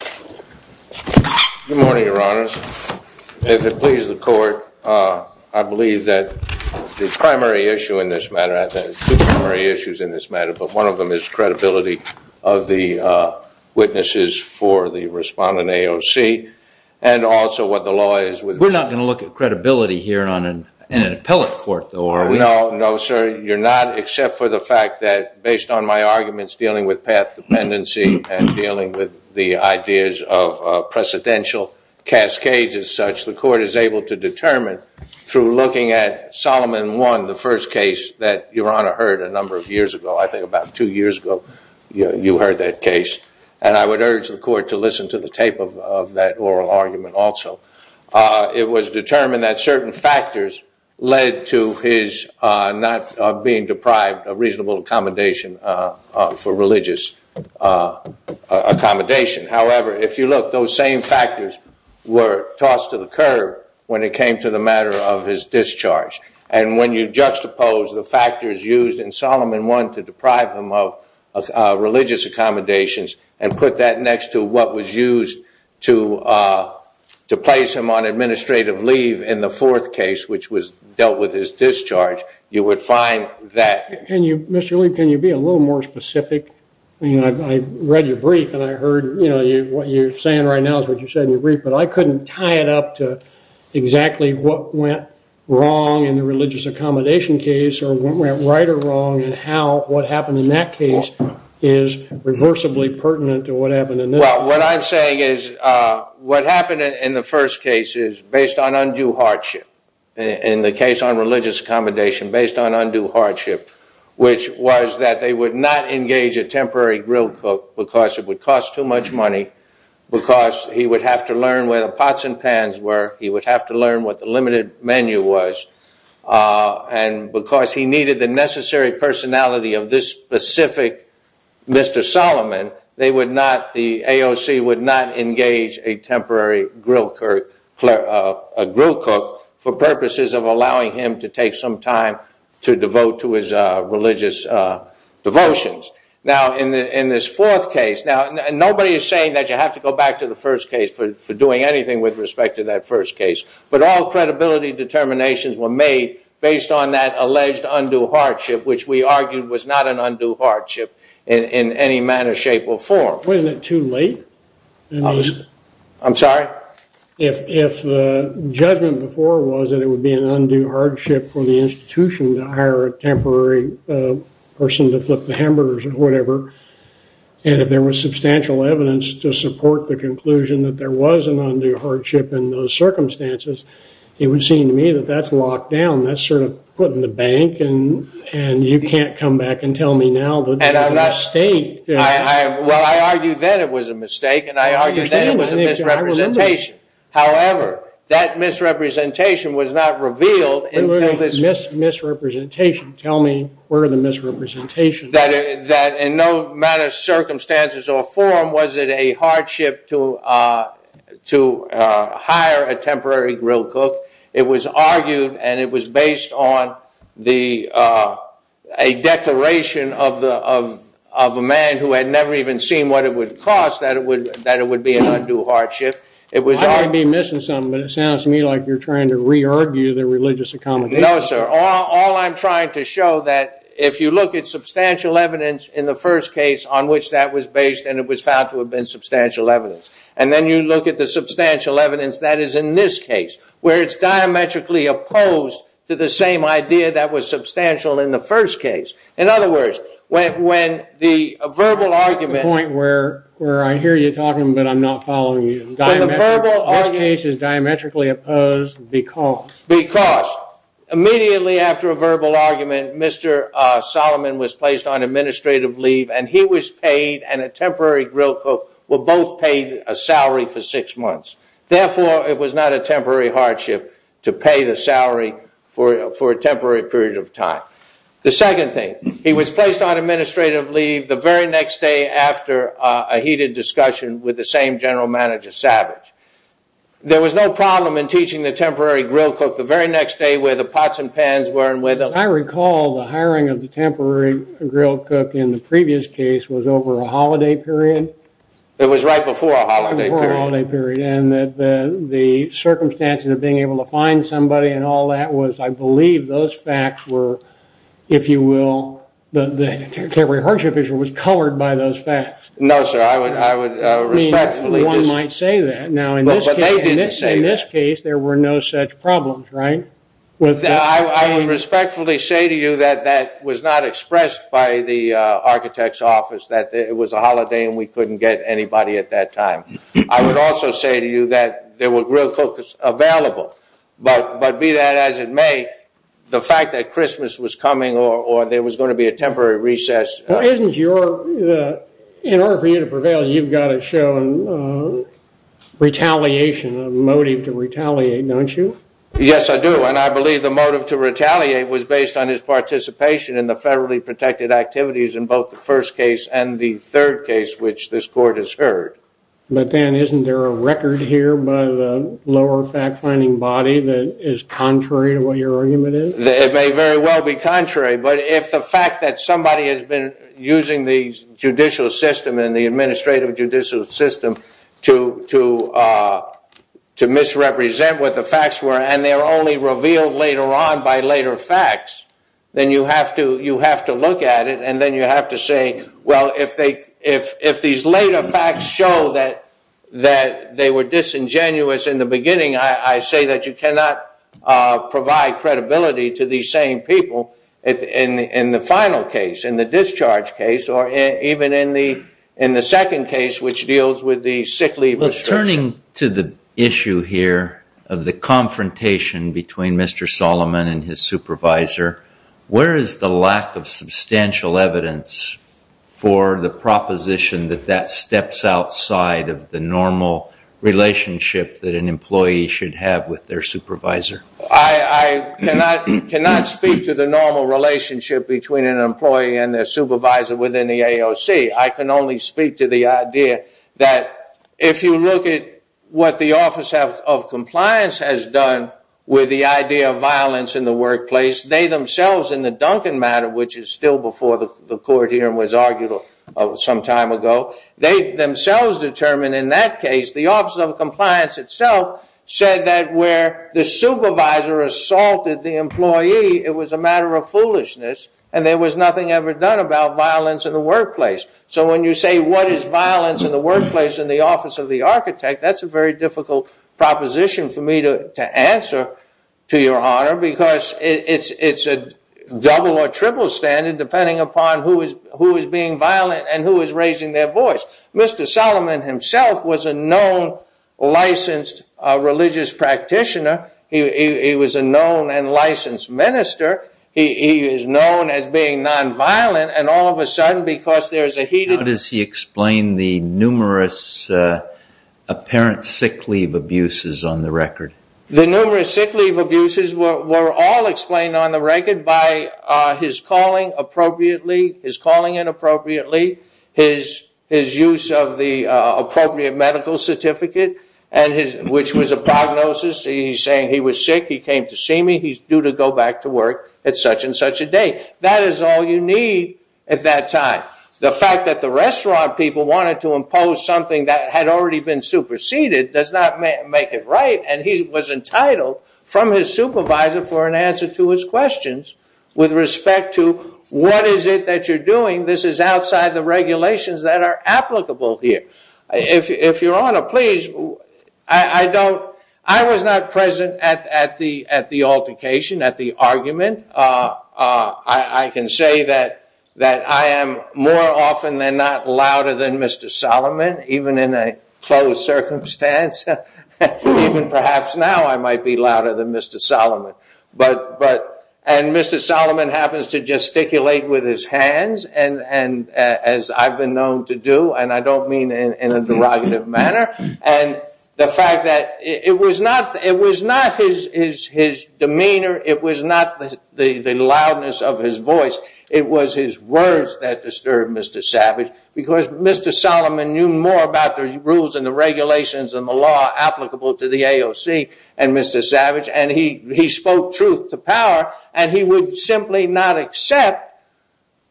Good morning, your honors. If it pleases the court, I believe that the primary issue in this matter, I think there are two primary issues in this matter, but one of them is credibility of the witnesses for the respondent, AOC, and also what the law is. We're not going to look at credibility here in an appellate court, though, are we? No, no, sir. You're not, except for the fact that based on my arguments dealing with path dependency and dealing with the ideas of precedential cascades as such, the court is able to determine through looking at Solomon 1, the first case that your honor heard a number of years ago, I think about two years ago, you heard that case, and I would urge the court to listen to the tape of that oral argument also. It was determined that certain factors led to his not being deprived of reasonable accommodation for religious accommodation. However, if you look, those same factors were tossed to the curb when it came to the matter of his discharge. And when you juxtapose the factors used in Solomon 1 to deprive him of religious accommodations and put that next to what was used to place him on administrative leave in the fourth case, which was dealt with his discharge, you would find that… Mr. Lee, can you be a little more specific? I read your brief and I heard what you're saying right now is what you said in your brief, but I couldn't tie it up to exactly what went wrong in the religious accommodation case or what went right or wrong and how what happened in that case is reversibly pertinent to what happened in this case. Well, what I'm saying is what happened in the first case is based on undue hardship. In the case on religious accommodation, based on undue hardship, which was that they would not engage a temporary grill cook because it would cost too much money, because he would have to learn where the pots and pans were, he would have to learn what the limited menu was. And because he needed the necessary personality of this specific Mr. Solomon, the AOC would not engage a temporary grill cook for purposes of allowing him to take some time to devote to his religious devotions. Now, in this fourth case, nobody is saying that you have to go back to the first case for doing anything with respect to that first case, but all credibility determinations were made based on that alleged undue hardship, which we argued was not an undue hardship in any manner, shape, or form. Wasn't it too late? I'm sorry? If the judgment before was that it would be an undue hardship for the institution to hire a temporary person to flip the hamburgers or whatever, and if there was substantial evidence to support the conclusion that there was an undue hardship in those circumstances, it would seem to me that that's locked down. That's sort of put in the bank, and you can't come back and tell me now that there's a mistake. Well, I argued that it was a mistake, and I argued that it was a misrepresentation. However, that misrepresentation was not revealed until this— Misrepresentation. Tell me where the misrepresentation was. That in no matter of circumstances or form was it a hardship to hire a temporary grill cook. It was argued, and it was based on a declaration of a man who had never even seen what it would cost that it would be an undue hardship. I may be missing something, but it sounds to me like you're trying to re-argue the religious accommodation. No, sir. All I'm trying to show that if you look at substantial evidence in the first case on which that was based, and it was found to have been substantial evidence, and then you look at the substantial evidence that is in this case, where it's diametrically opposed to the same idea that was substantial in the first case. In other words, when the verbal argument— To the point where I hear you talking, but I'm not following you. When the verbal argument— This case is diametrically opposed because— Because immediately after a verbal argument, Mr. Solomon was placed on administrative leave, and he was paid, and a temporary grill cook were both paid a salary for six months. Therefore, it was not a temporary hardship to pay the salary for a temporary period of time. The second thing, he was placed on administrative leave the very next day after a heated discussion with the same general manager, Savage. There was no problem in teaching the temporary grill cook the very next day where the pots and pans were and where the— I recall the hiring of the temporary grill cook in the previous case was over a holiday period. It was right before a holiday period. The circumstances of being able to find somebody and all that was, I believe, those facts were, if you will, the temporary hardship issue was covered by those facts. No, sir. I would respectfully— One might say that. But they didn't say that. In this case, there were no such problems, right? I would respectfully say to you that that was not expressed by the architect's office, that it was a holiday and we couldn't get anybody at that time. I would also say to you that there were grill cooks available. But be that as it may, the fact that Christmas was coming or there was going to be a temporary recess— In order for you to prevail, you've got to show retaliation, a motive to retaliate, don't you? Yes, I do. And I believe the motive to retaliate was based on his participation in the federally protected activities in both the first case and the third case, which this court has heard. But then isn't there a record here by the lower fact-finding body that is contrary to what your argument is? It may very well be contrary. But if the fact that somebody has been using the judicial system and the administrative judicial system to misrepresent what the facts were and they're only revealed later on by later facts, then you have to look at it and then you have to say, well, if these later facts show that they were disingenuous in the beginning, I say that you cannot provide credibility to these same people in the final case, in the discharge case, or even in the second case, which deals with the sick leave restriction. Returning to the issue here of the confrontation between Mr. Solomon and his supervisor, where is the lack of substantial evidence for the proposition that that steps outside of the normal relationship that an employee should have with their supervisor? I cannot speak to the normal relationship between an employee and their supervisor within the AOC. I can only speak to the idea that if you look at what the Office of Compliance has done with the idea of violence in the workplace, they themselves in the Duncan matter, which is still before the court hearing was argued some time ago, they themselves determined in that case the Office of Compliance itself said that where the supervisor assaulted the employee, it was a matter of foolishness and there was nothing ever done about violence in the workplace. So when you say what is violence in the workplace in the office of the architect, that's a very difficult proposition for me to answer to your honor, because it's a double or triple standard depending upon who is being violent and who is raising their voice. Mr. Solomon himself was a known licensed religious practitioner. He was a known and licensed minister. He is known as being nonviolent and all of a sudden because there is a heated... How does he explain the numerous apparent sick leave abuses on the record? The numerous sick leave abuses were all explained on the record by his calling appropriately, his calling inappropriately, his use of the appropriate medical certificate, which was a prognosis. He's saying he was sick, he came to see me, he's due to go back to work at such and such a day. That is all you need at that time. The fact that the restaurant people wanted to impose something that had already been superseded does not make it right and he was entitled from his supervisor for an answer to his questions with respect to what is it that you're doing. This is outside the regulations that are applicable here. If your honor, please, I was not present at the altercation, at the argument. I can say that I am more often than not louder than Mr. Solomon, even in a closed circumstance. Perhaps now I might be louder than Mr. Solomon. And Mr. Solomon happens to gesticulate with his hands as I've been known to do, and I don't mean in a derogative manner. And the fact that it was not his demeanor, it was not the loudness of his voice, it was his words that disturbed Mr. Savage because Mr. Solomon knew more about the rules and the regulations and the law applicable to the AOC and Mr. Savage, and he spoke truth to power and he would simply not accept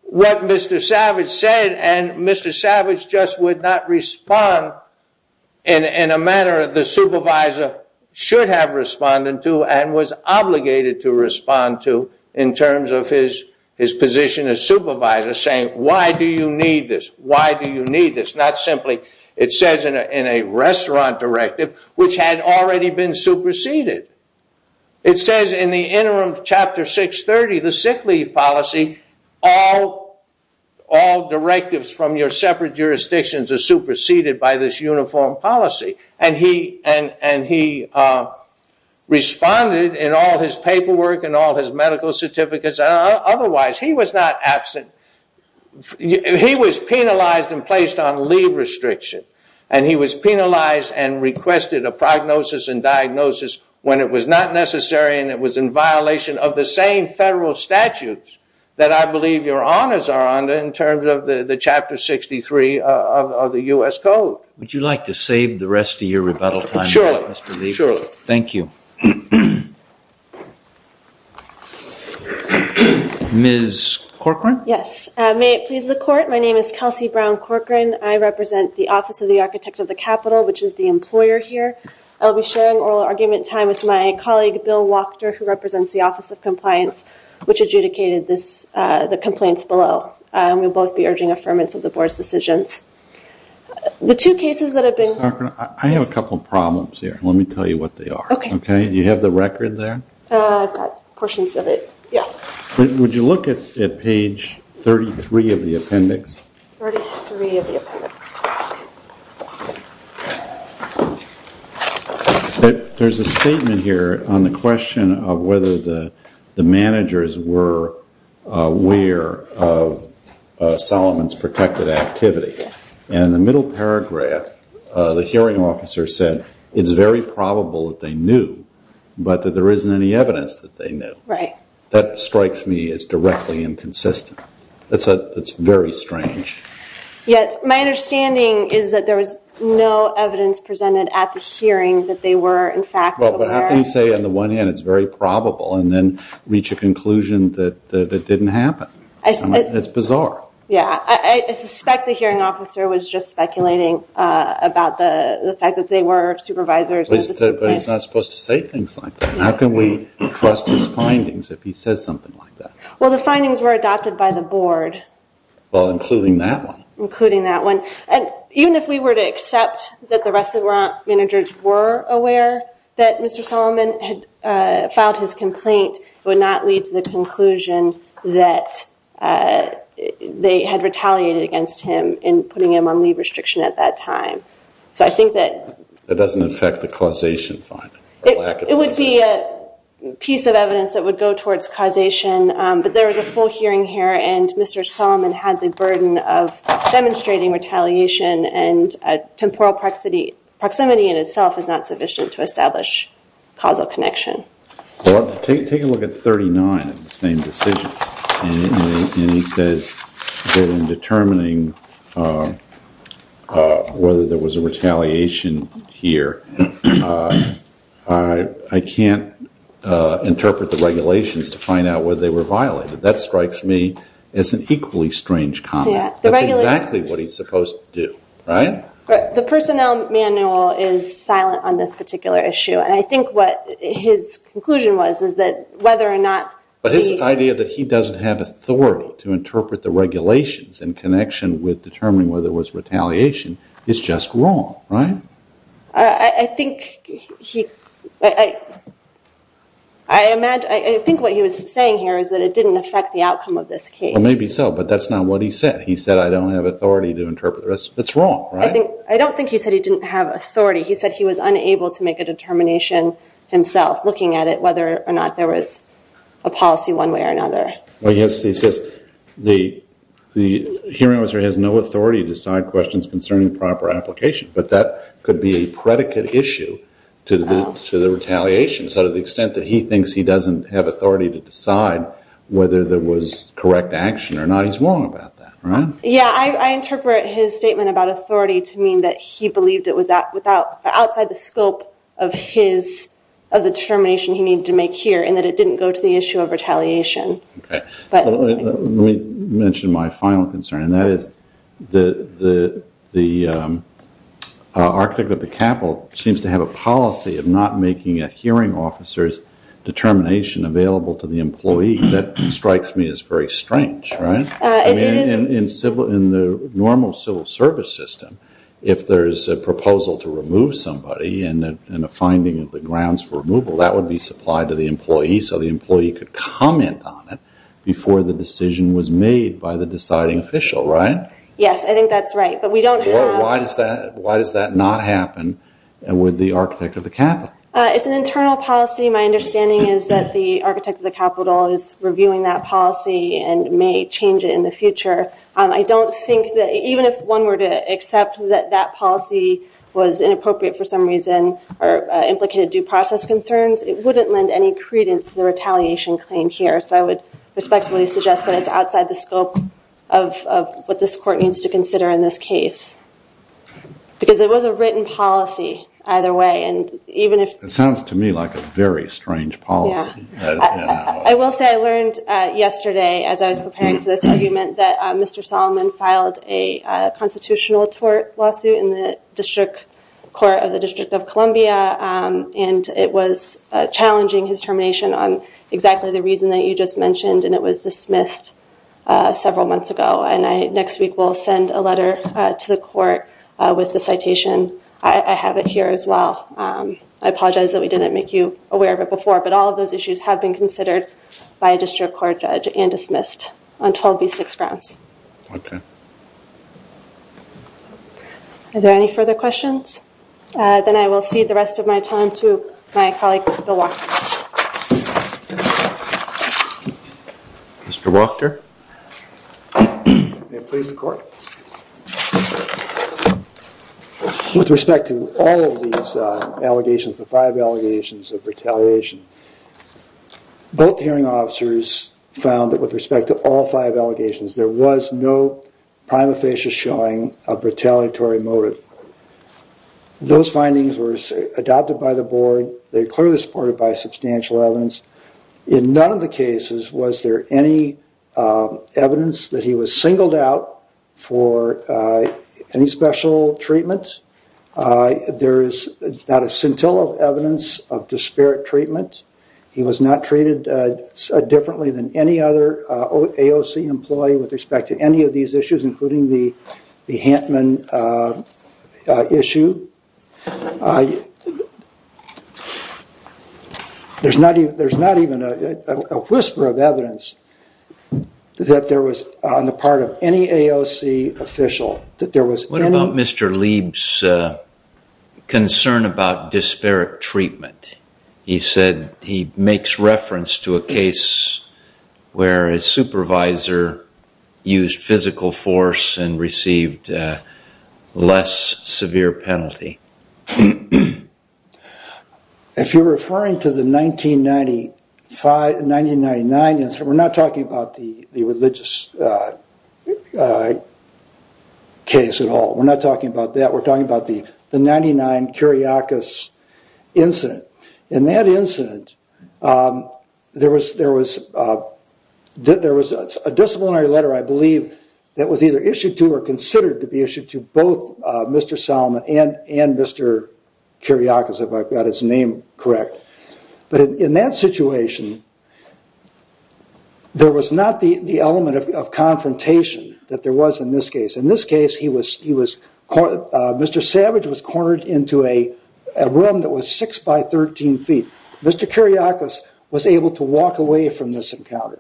what Mr. Savage said and Mr. Savage just would not respond in a manner the supervisor should have responded to and was obligated to respond to in terms of his position as supervisor, saying, why do you need this? Why do you need this? Not simply, it says in a restaurant directive, which had already been superseded. It says in the interim chapter 630, the sick leave policy, all directives from your separate jurisdictions are superseded by this uniform policy. And he responded in all his paperwork and all his medical certificates, and otherwise he was not absent. He was penalized and placed on leave restriction, and he was penalized and requested a prognosis and diagnosis when it was not necessary and it was in violation of the same federal statutes that I believe your honors are under in terms of the chapter 63 of the U.S. Code. Would you like to save the rest of your rebuttal time? Thank you. Ms. Corcoran? Yes. May it please the court, my name is Kelsey Brown Corcoran. I represent the Office of the Architect of the Capitol, which is the employer here. I'll be sharing oral argument time with my colleague, Bill Wachter, who represents the Office of Compliance, which adjudicated the complaints below. We'll both be urging affirmance of the board's decisions. The two cases that have been... Ms. Corcoran, I have a couple of problems here. Let me tell you what they are. Okay. Do you have the record there? I've got portions of it, yeah. Would you look at page 33 of the appendix? 33 of the appendix. There's a statement here on the question of whether the managers were aware of Solomon's protected activity. In the middle paragraph, the hearing officer said, it's very probable that they knew, but that there isn't any evidence that they knew. Right. That strikes me as directly inconsistent. That's very strange. Yes. My understanding is that there was no evidence presented at the hearing that they were, in fact, aware. How can you say on the one hand it's very probable and then reach a conclusion that it didn't happen? It's bizarre. Yeah. I suspect the hearing officer was just speculating about the fact that they were supervisors. But he's not supposed to say things like that. How can we trust his findings if he says something like that? Well, the findings were adopted by the board. Well, including that one. Including that one. Even if we were to accept that the rest of our managers were aware that Mr. Solomon had filed his complaint, it would not lead to the conclusion that they had retaliated against him in putting him on leave restriction at that time. That doesn't affect the causation finding. It would be a piece of evidence that would go towards causation. But there was a full hearing here, and Mr. Solomon had the burden of demonstrating retaliation and temporal proximity in itself is not sufficient to establish causal connection. Well, take a look at 39, the same decision. And he says that in determining whether there was a retaliation here, I can't interpret the regulations to find out whether they were violated. That strikes me as an equally strange comment. That's exactly what he's supposed to do, right? The personnel manual is silent on this particular issue. And I think what his conclusion was is that whether or not the ---- But his idea that he doesn't have authority to interpret the regulations in connection with determining whether there was retaliation is just wrong, right? I think he ---- I imagine ---- I think what he was saying here is that it didn't affect the outcome of this case. Well, maybe so, but that's not what he said. He said, I don't have authority to interpret. That's wrong, right? I don't think he said he didn't have authority. He said he was unable to make a determination himself, looking at it, whether or not there was a policy one way or another. Well, yes, he says the hearing officer has no authority to decide questions concerning proper application. But that could be a predicate issue to the retaliation. So to the extent that he thinks he doesn't have authority to decide whether there was correct action or not, he's wrong about that, right? Yeah, I interpret his statement about authority to mean that he believed it was outside the scope of his determination he needed to make here and that it didn't go to the issue of retaliation. Let me mention my final concern, and that is the architect of the capital seems to have a policy of not making a hearing officer's determination available to the employee. That strikes me as very strange, right? In the normal civil service system, if there is a proposal to remove somebody and a finding of the grounds for removal, that would be supplied to the employee so the employee could comment on it before the decision was made by the deciding official, right? Yes, I think that's right, but we don't have- Why does that not happen with the architect of the capital? It's an internal policy. My understanding is that the architect of the capital is reviewing that policy and may change it in the future. I don't think that even if one were to accept that that policy was inappropriate for some reason or implicated due process concerns, it wouldn't lend any credence to the retaliation claim here, so I would respectfully suggest that it's outside the scope of what this court needs to consider in this case because it was a written policy either way and even if- It sounds to me like a very strange policy. I will say I learned yesterday as I was preparing for this argument that Mr. Solomon filed a constitutional tort lawsuit in the District Court of the District of Columbia and it was challenging his termination on exactly the reason that you just mentioned and it was dismissed several months ago and next week we'll send a letter to the court with the citation. I have it here as well. I apologize that we didn't make you aware of it before but all of those issues have been considered by a district court judge and dismissed on 12B6 grounds. Okay. Are there any further questions? Then I will cede the rest of my time to my colleague Bill Wachter. Mr. Wachter. May it please the court. With respect to all of these allegations, the five allegations of retaliation, both hearing officers found that with respect to all five allegations there was no prima facie showing a retaliatory motive. Those findings were adopted by the board. They are clearly supported by substantial evidence. In none of the cases was there any evidence that he was singled out for any special treatment. There is not a scintilla of evidence of disparate treatment. He was not treated differently than any other AOC employee with respect to any of these issues including the Hantman issue. There's not even a whisper of evidence that there was on the part of any AOC official. What about Mr. Lieb's concern about disparate treatment? He said he makes reference to a case where his supervisor used physical force and received less severe penalty. If you're referring to the 1995-1999, we're not talking about the religious case at all. We're not talking about that. We're talking about the 1999 Kiriakis incident. In that incident, there was a disciplinary letter, I believe, that was either issued to or considered to be issued to both Mr. Salman and Mr. Kiriakis, if I've got his name correct. In that situation, there was not the element of confrontation that there was in this case. In this case, Mr. Savage was cornered into a room that was 6 by 13 feet. Mr. Kiriakis was able to walk away from this encounter.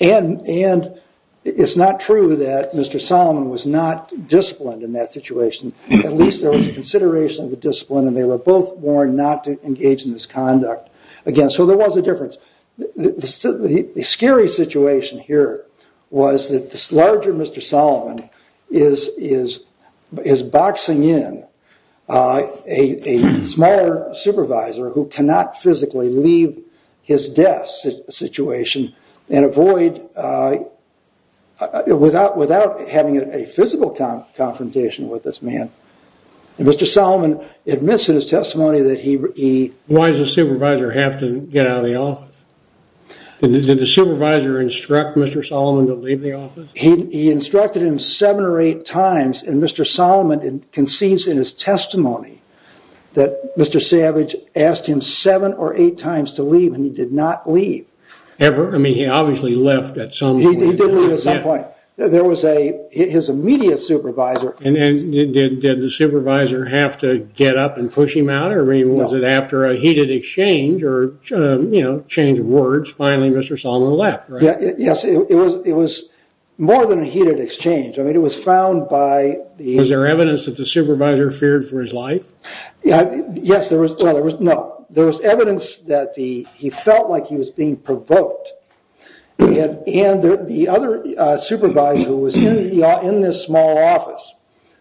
It's not true that Mr. Salman was not disciplined in that situation. At least there was consideration of the discipline and they were both warned not to engage in this conduct. Again, so there was a difference. The scary situation here was that this larger Mr. Salman is boxing in a smaller supervisor who cannot physically leave his desk situation without having a physical confrontation with this man. Mr. Salman admits in his testimony that he... Why does the supervisor have to get out of the office? Did the supervisor instruct Mr. Salman to leave the office? He instructed him seven or eight times and Mr. Salman concedes in his testimony that Mr. Savage asked him seven or eight times to leave and he did not leave. Ever? I mean, he obviously left at some point. He did leave at some point. His immediate supervisor... Did the supervisor have to get up and push him out or was it after a heated exchange or change of words, finally Mr. Salman left? Yes, it was more than a heated exchange. I mean, it was found by... Was there evidence that the supervisor feared for his life? Yes, there was. No, there was evidence that he felt like he was being provoked. And the other supervisor who was in this small office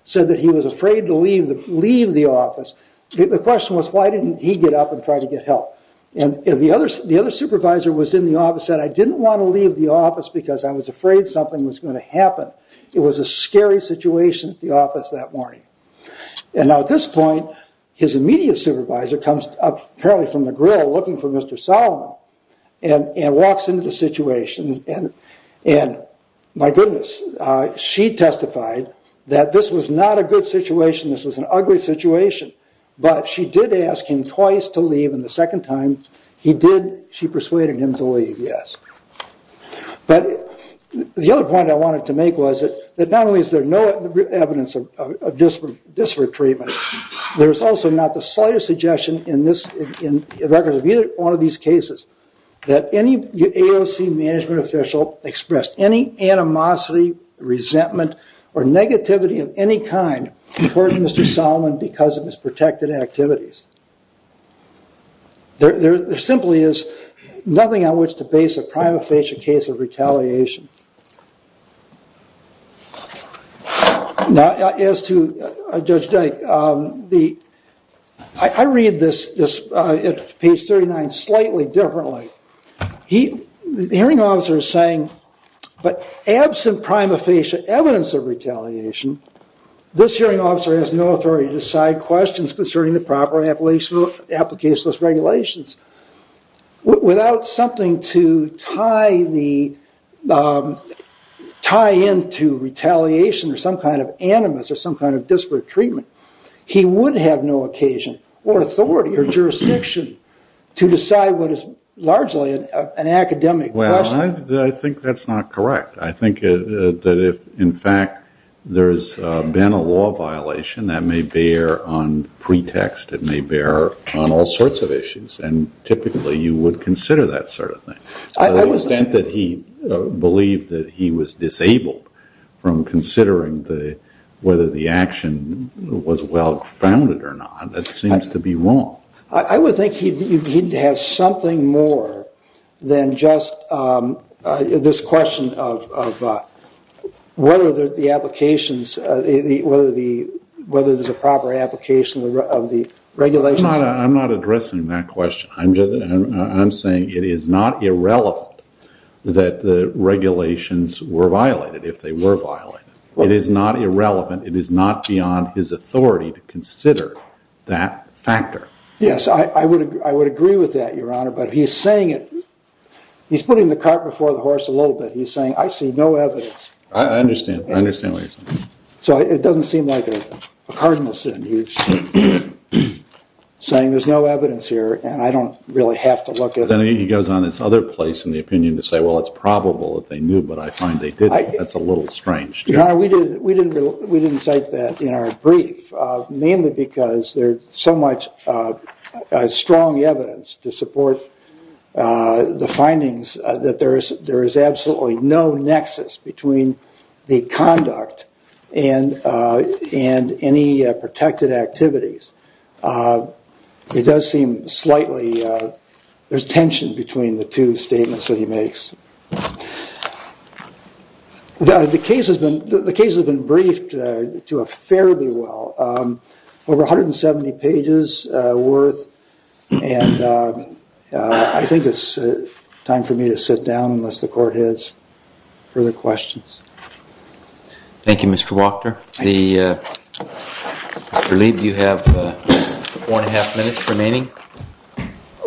said that he was afraid to leave the office. The question was why didn't he get up and try to get help? And the other supervisor who was in the office said, I didn't want to leave the office because I was afraid something was going to happen. It was a scary situation at the office that morning. And now at this point his immediate supervisor comes up apparently from the grill looking for Mr. Salman and walks into the situation. And my goodness, she testified that this was not a good situation, this was an ugly situation, but she did ask him twice to leave and the second time he did, she persuaded him to leave, yes. But the other point I wanted to make was that not only is there no evidence of disparate treatment, there's also not the slightest suggestion in the record of either one of these cases that any AOC management official expressed any animosity, resentment or negativity of any kind toward Mr. Salman because of his protected activities. There simply is nothing on which to base a prima facie case of retaliation. Now, as to Judge Dyke, I read this at page 39 slightly differently. The hearing officer is saying, but absent prima facie evidence of retaliation, this hearing officer has no authority to decide questions concerning the proper application of those regulations. Without something to tie into retaliation or some kind of animus or some kind of disparate treatment, he would have no occasion or authority or jurisdiction to decide what is largely an academic question. Well, I think that's not correct. I think that if, in fact, there's been a law violation, that may bear on pretext, it may bear on all sorts of issues. And typically you would consider that sort of thing. To the extent that he believed that he was disabled from considering whether the action was well-founded or not, that seems to be wrong. I would think he'd have something more than just this question of whether the applications, whether there's a proper application of the regulations. I'm not addressing that question. I'm saying it is not irrelevant that the regulations were violated if they were violated. It is not irrelevant. It is not beyond his authority to consider that factor. Yes, I would agree with that, Your Honor. But he's saying it. He's putting the cart before the horse a little bit. He's saying, I see no evidence. I understand. I understand what you're saying. So it doesn't seem like a cardinal sin. He's saying there's no evidence here, and I don't really have to look at it. Then he goes on this other place in the opinion to say, well, it's probable that they knew, but I find they didn't. That's a little strange. Your Honor, we didn't cite that in our brief, mainly because there's so much strong evidence to support the findings that there is absolutely no nexus between the conduct and any protected activities. It does seem slightly there's tension between the two statements that he makes. The case has been briefed fairly well, over 170 pages worth, and I think it's time for me to sit down unless the court has further questions. Thank you, Mr. Wachter. I believe you have four and a half minutes remaining.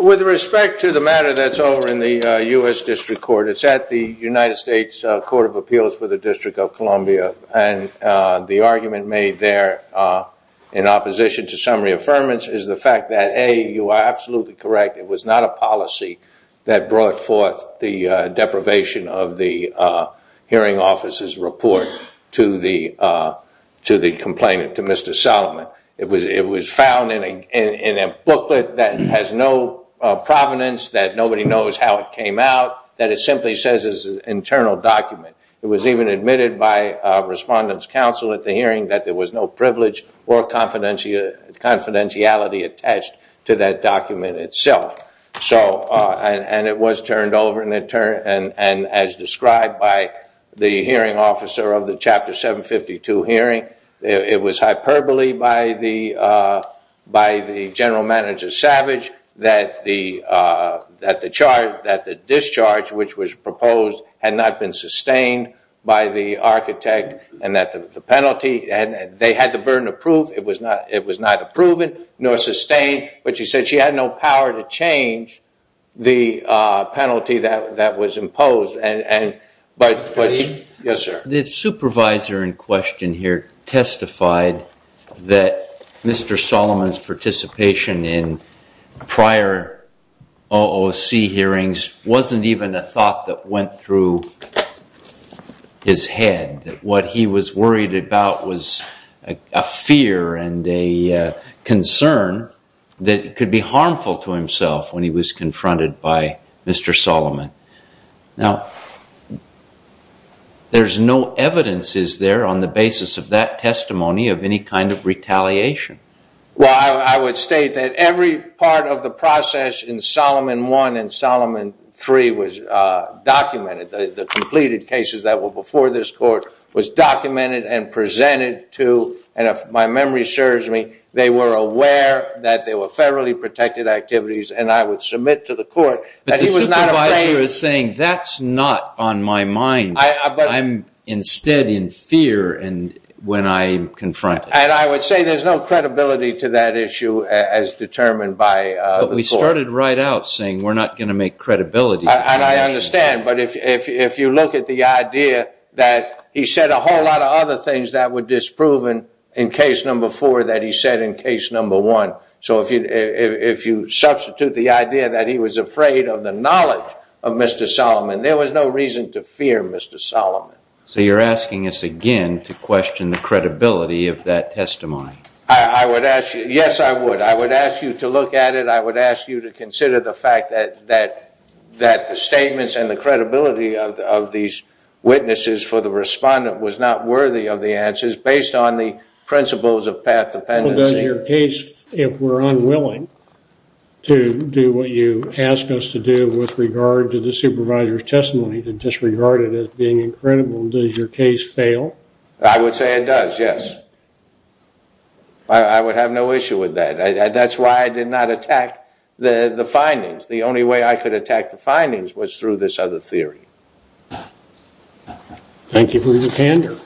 With respect to the matter that's over in the U.S. District Court, it's at the United States Court of Appeals for the District of Columbia, and the argument made there in opposition to summary affirmance is the fact that, A, you are absolutely correct, it was not a policy that brought forth the deprivation of the hearing officer's report to the complainant, to Mr. Solomon. It was found in a booklet that has no provenance, that nobody knows how it came out, that it simply says it's an internal document. It was even admitted by respondents' counsel at the hearing that there was no privilege or confidentiality attached to that document itself. And it was turned over, and as described by the hearing officer of the Chapter 752 hearing, it was hyperbole by the general manager, Savage, that the discharge which was proposed had not been sustained by the architect and that they had the burden of proof. It was neither proven nor sustained, but she said she had no power to change the penalty that was imposed. The supervisor in question here testified that Mr. Solomon's participation in prior OOC hearings wasn't even a thought that went through his head, that what he was worried about was a fear and a concern that could be harmful to himself when he was confronted by Mr. Solomon. Now, there's no evidences there on the basis of that testimony of any kind of retaliation. Well, I would state that every part of the process in Solomon I and Solomon III was documented. The completed cases that were before this court was documented and presented to, and if my memory serves me, they were aware that they were federally protected activities, and I would submit to the court that he was not afraid. But the supervisor is saying, that's not on my mind. I'm instead in fear when I'm confronted. And I would say there's no credibility to that issue as determined by the court. But we started right out saying we're not going to make credibility. And I understand. But if you look at the idea that he said a whole lot of other things that were disproven in case number four that he said in case number one. So if you substitute the idea that he was afraid of the knowledge of Mr. Solomon, there was no reason to fear Mr. Solomon. So you're asking us again to question the credibility of that testimony. Yes, I would. I would ask you to look at it. I would ask you to consider the fact that the statements and the credibility of these witnesses for the respondent was not worthy of the answers based on the principles of path dependency. Well, does your case, if we're unwilling to do what you ask us to do with regard to the supervisor's testimony, to disregard it as being incredible, does your case fail? I would say it does, yes. I would have no issue with that. That's why I did not attack the findings. The only way I could attack the findings was through this other theory. Thank you for your candor.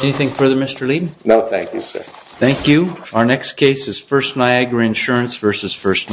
Anything further, Mr. Leed? No, thank you, sir. Thank you. Our next case is First Niagara Insurance v. First Niagara.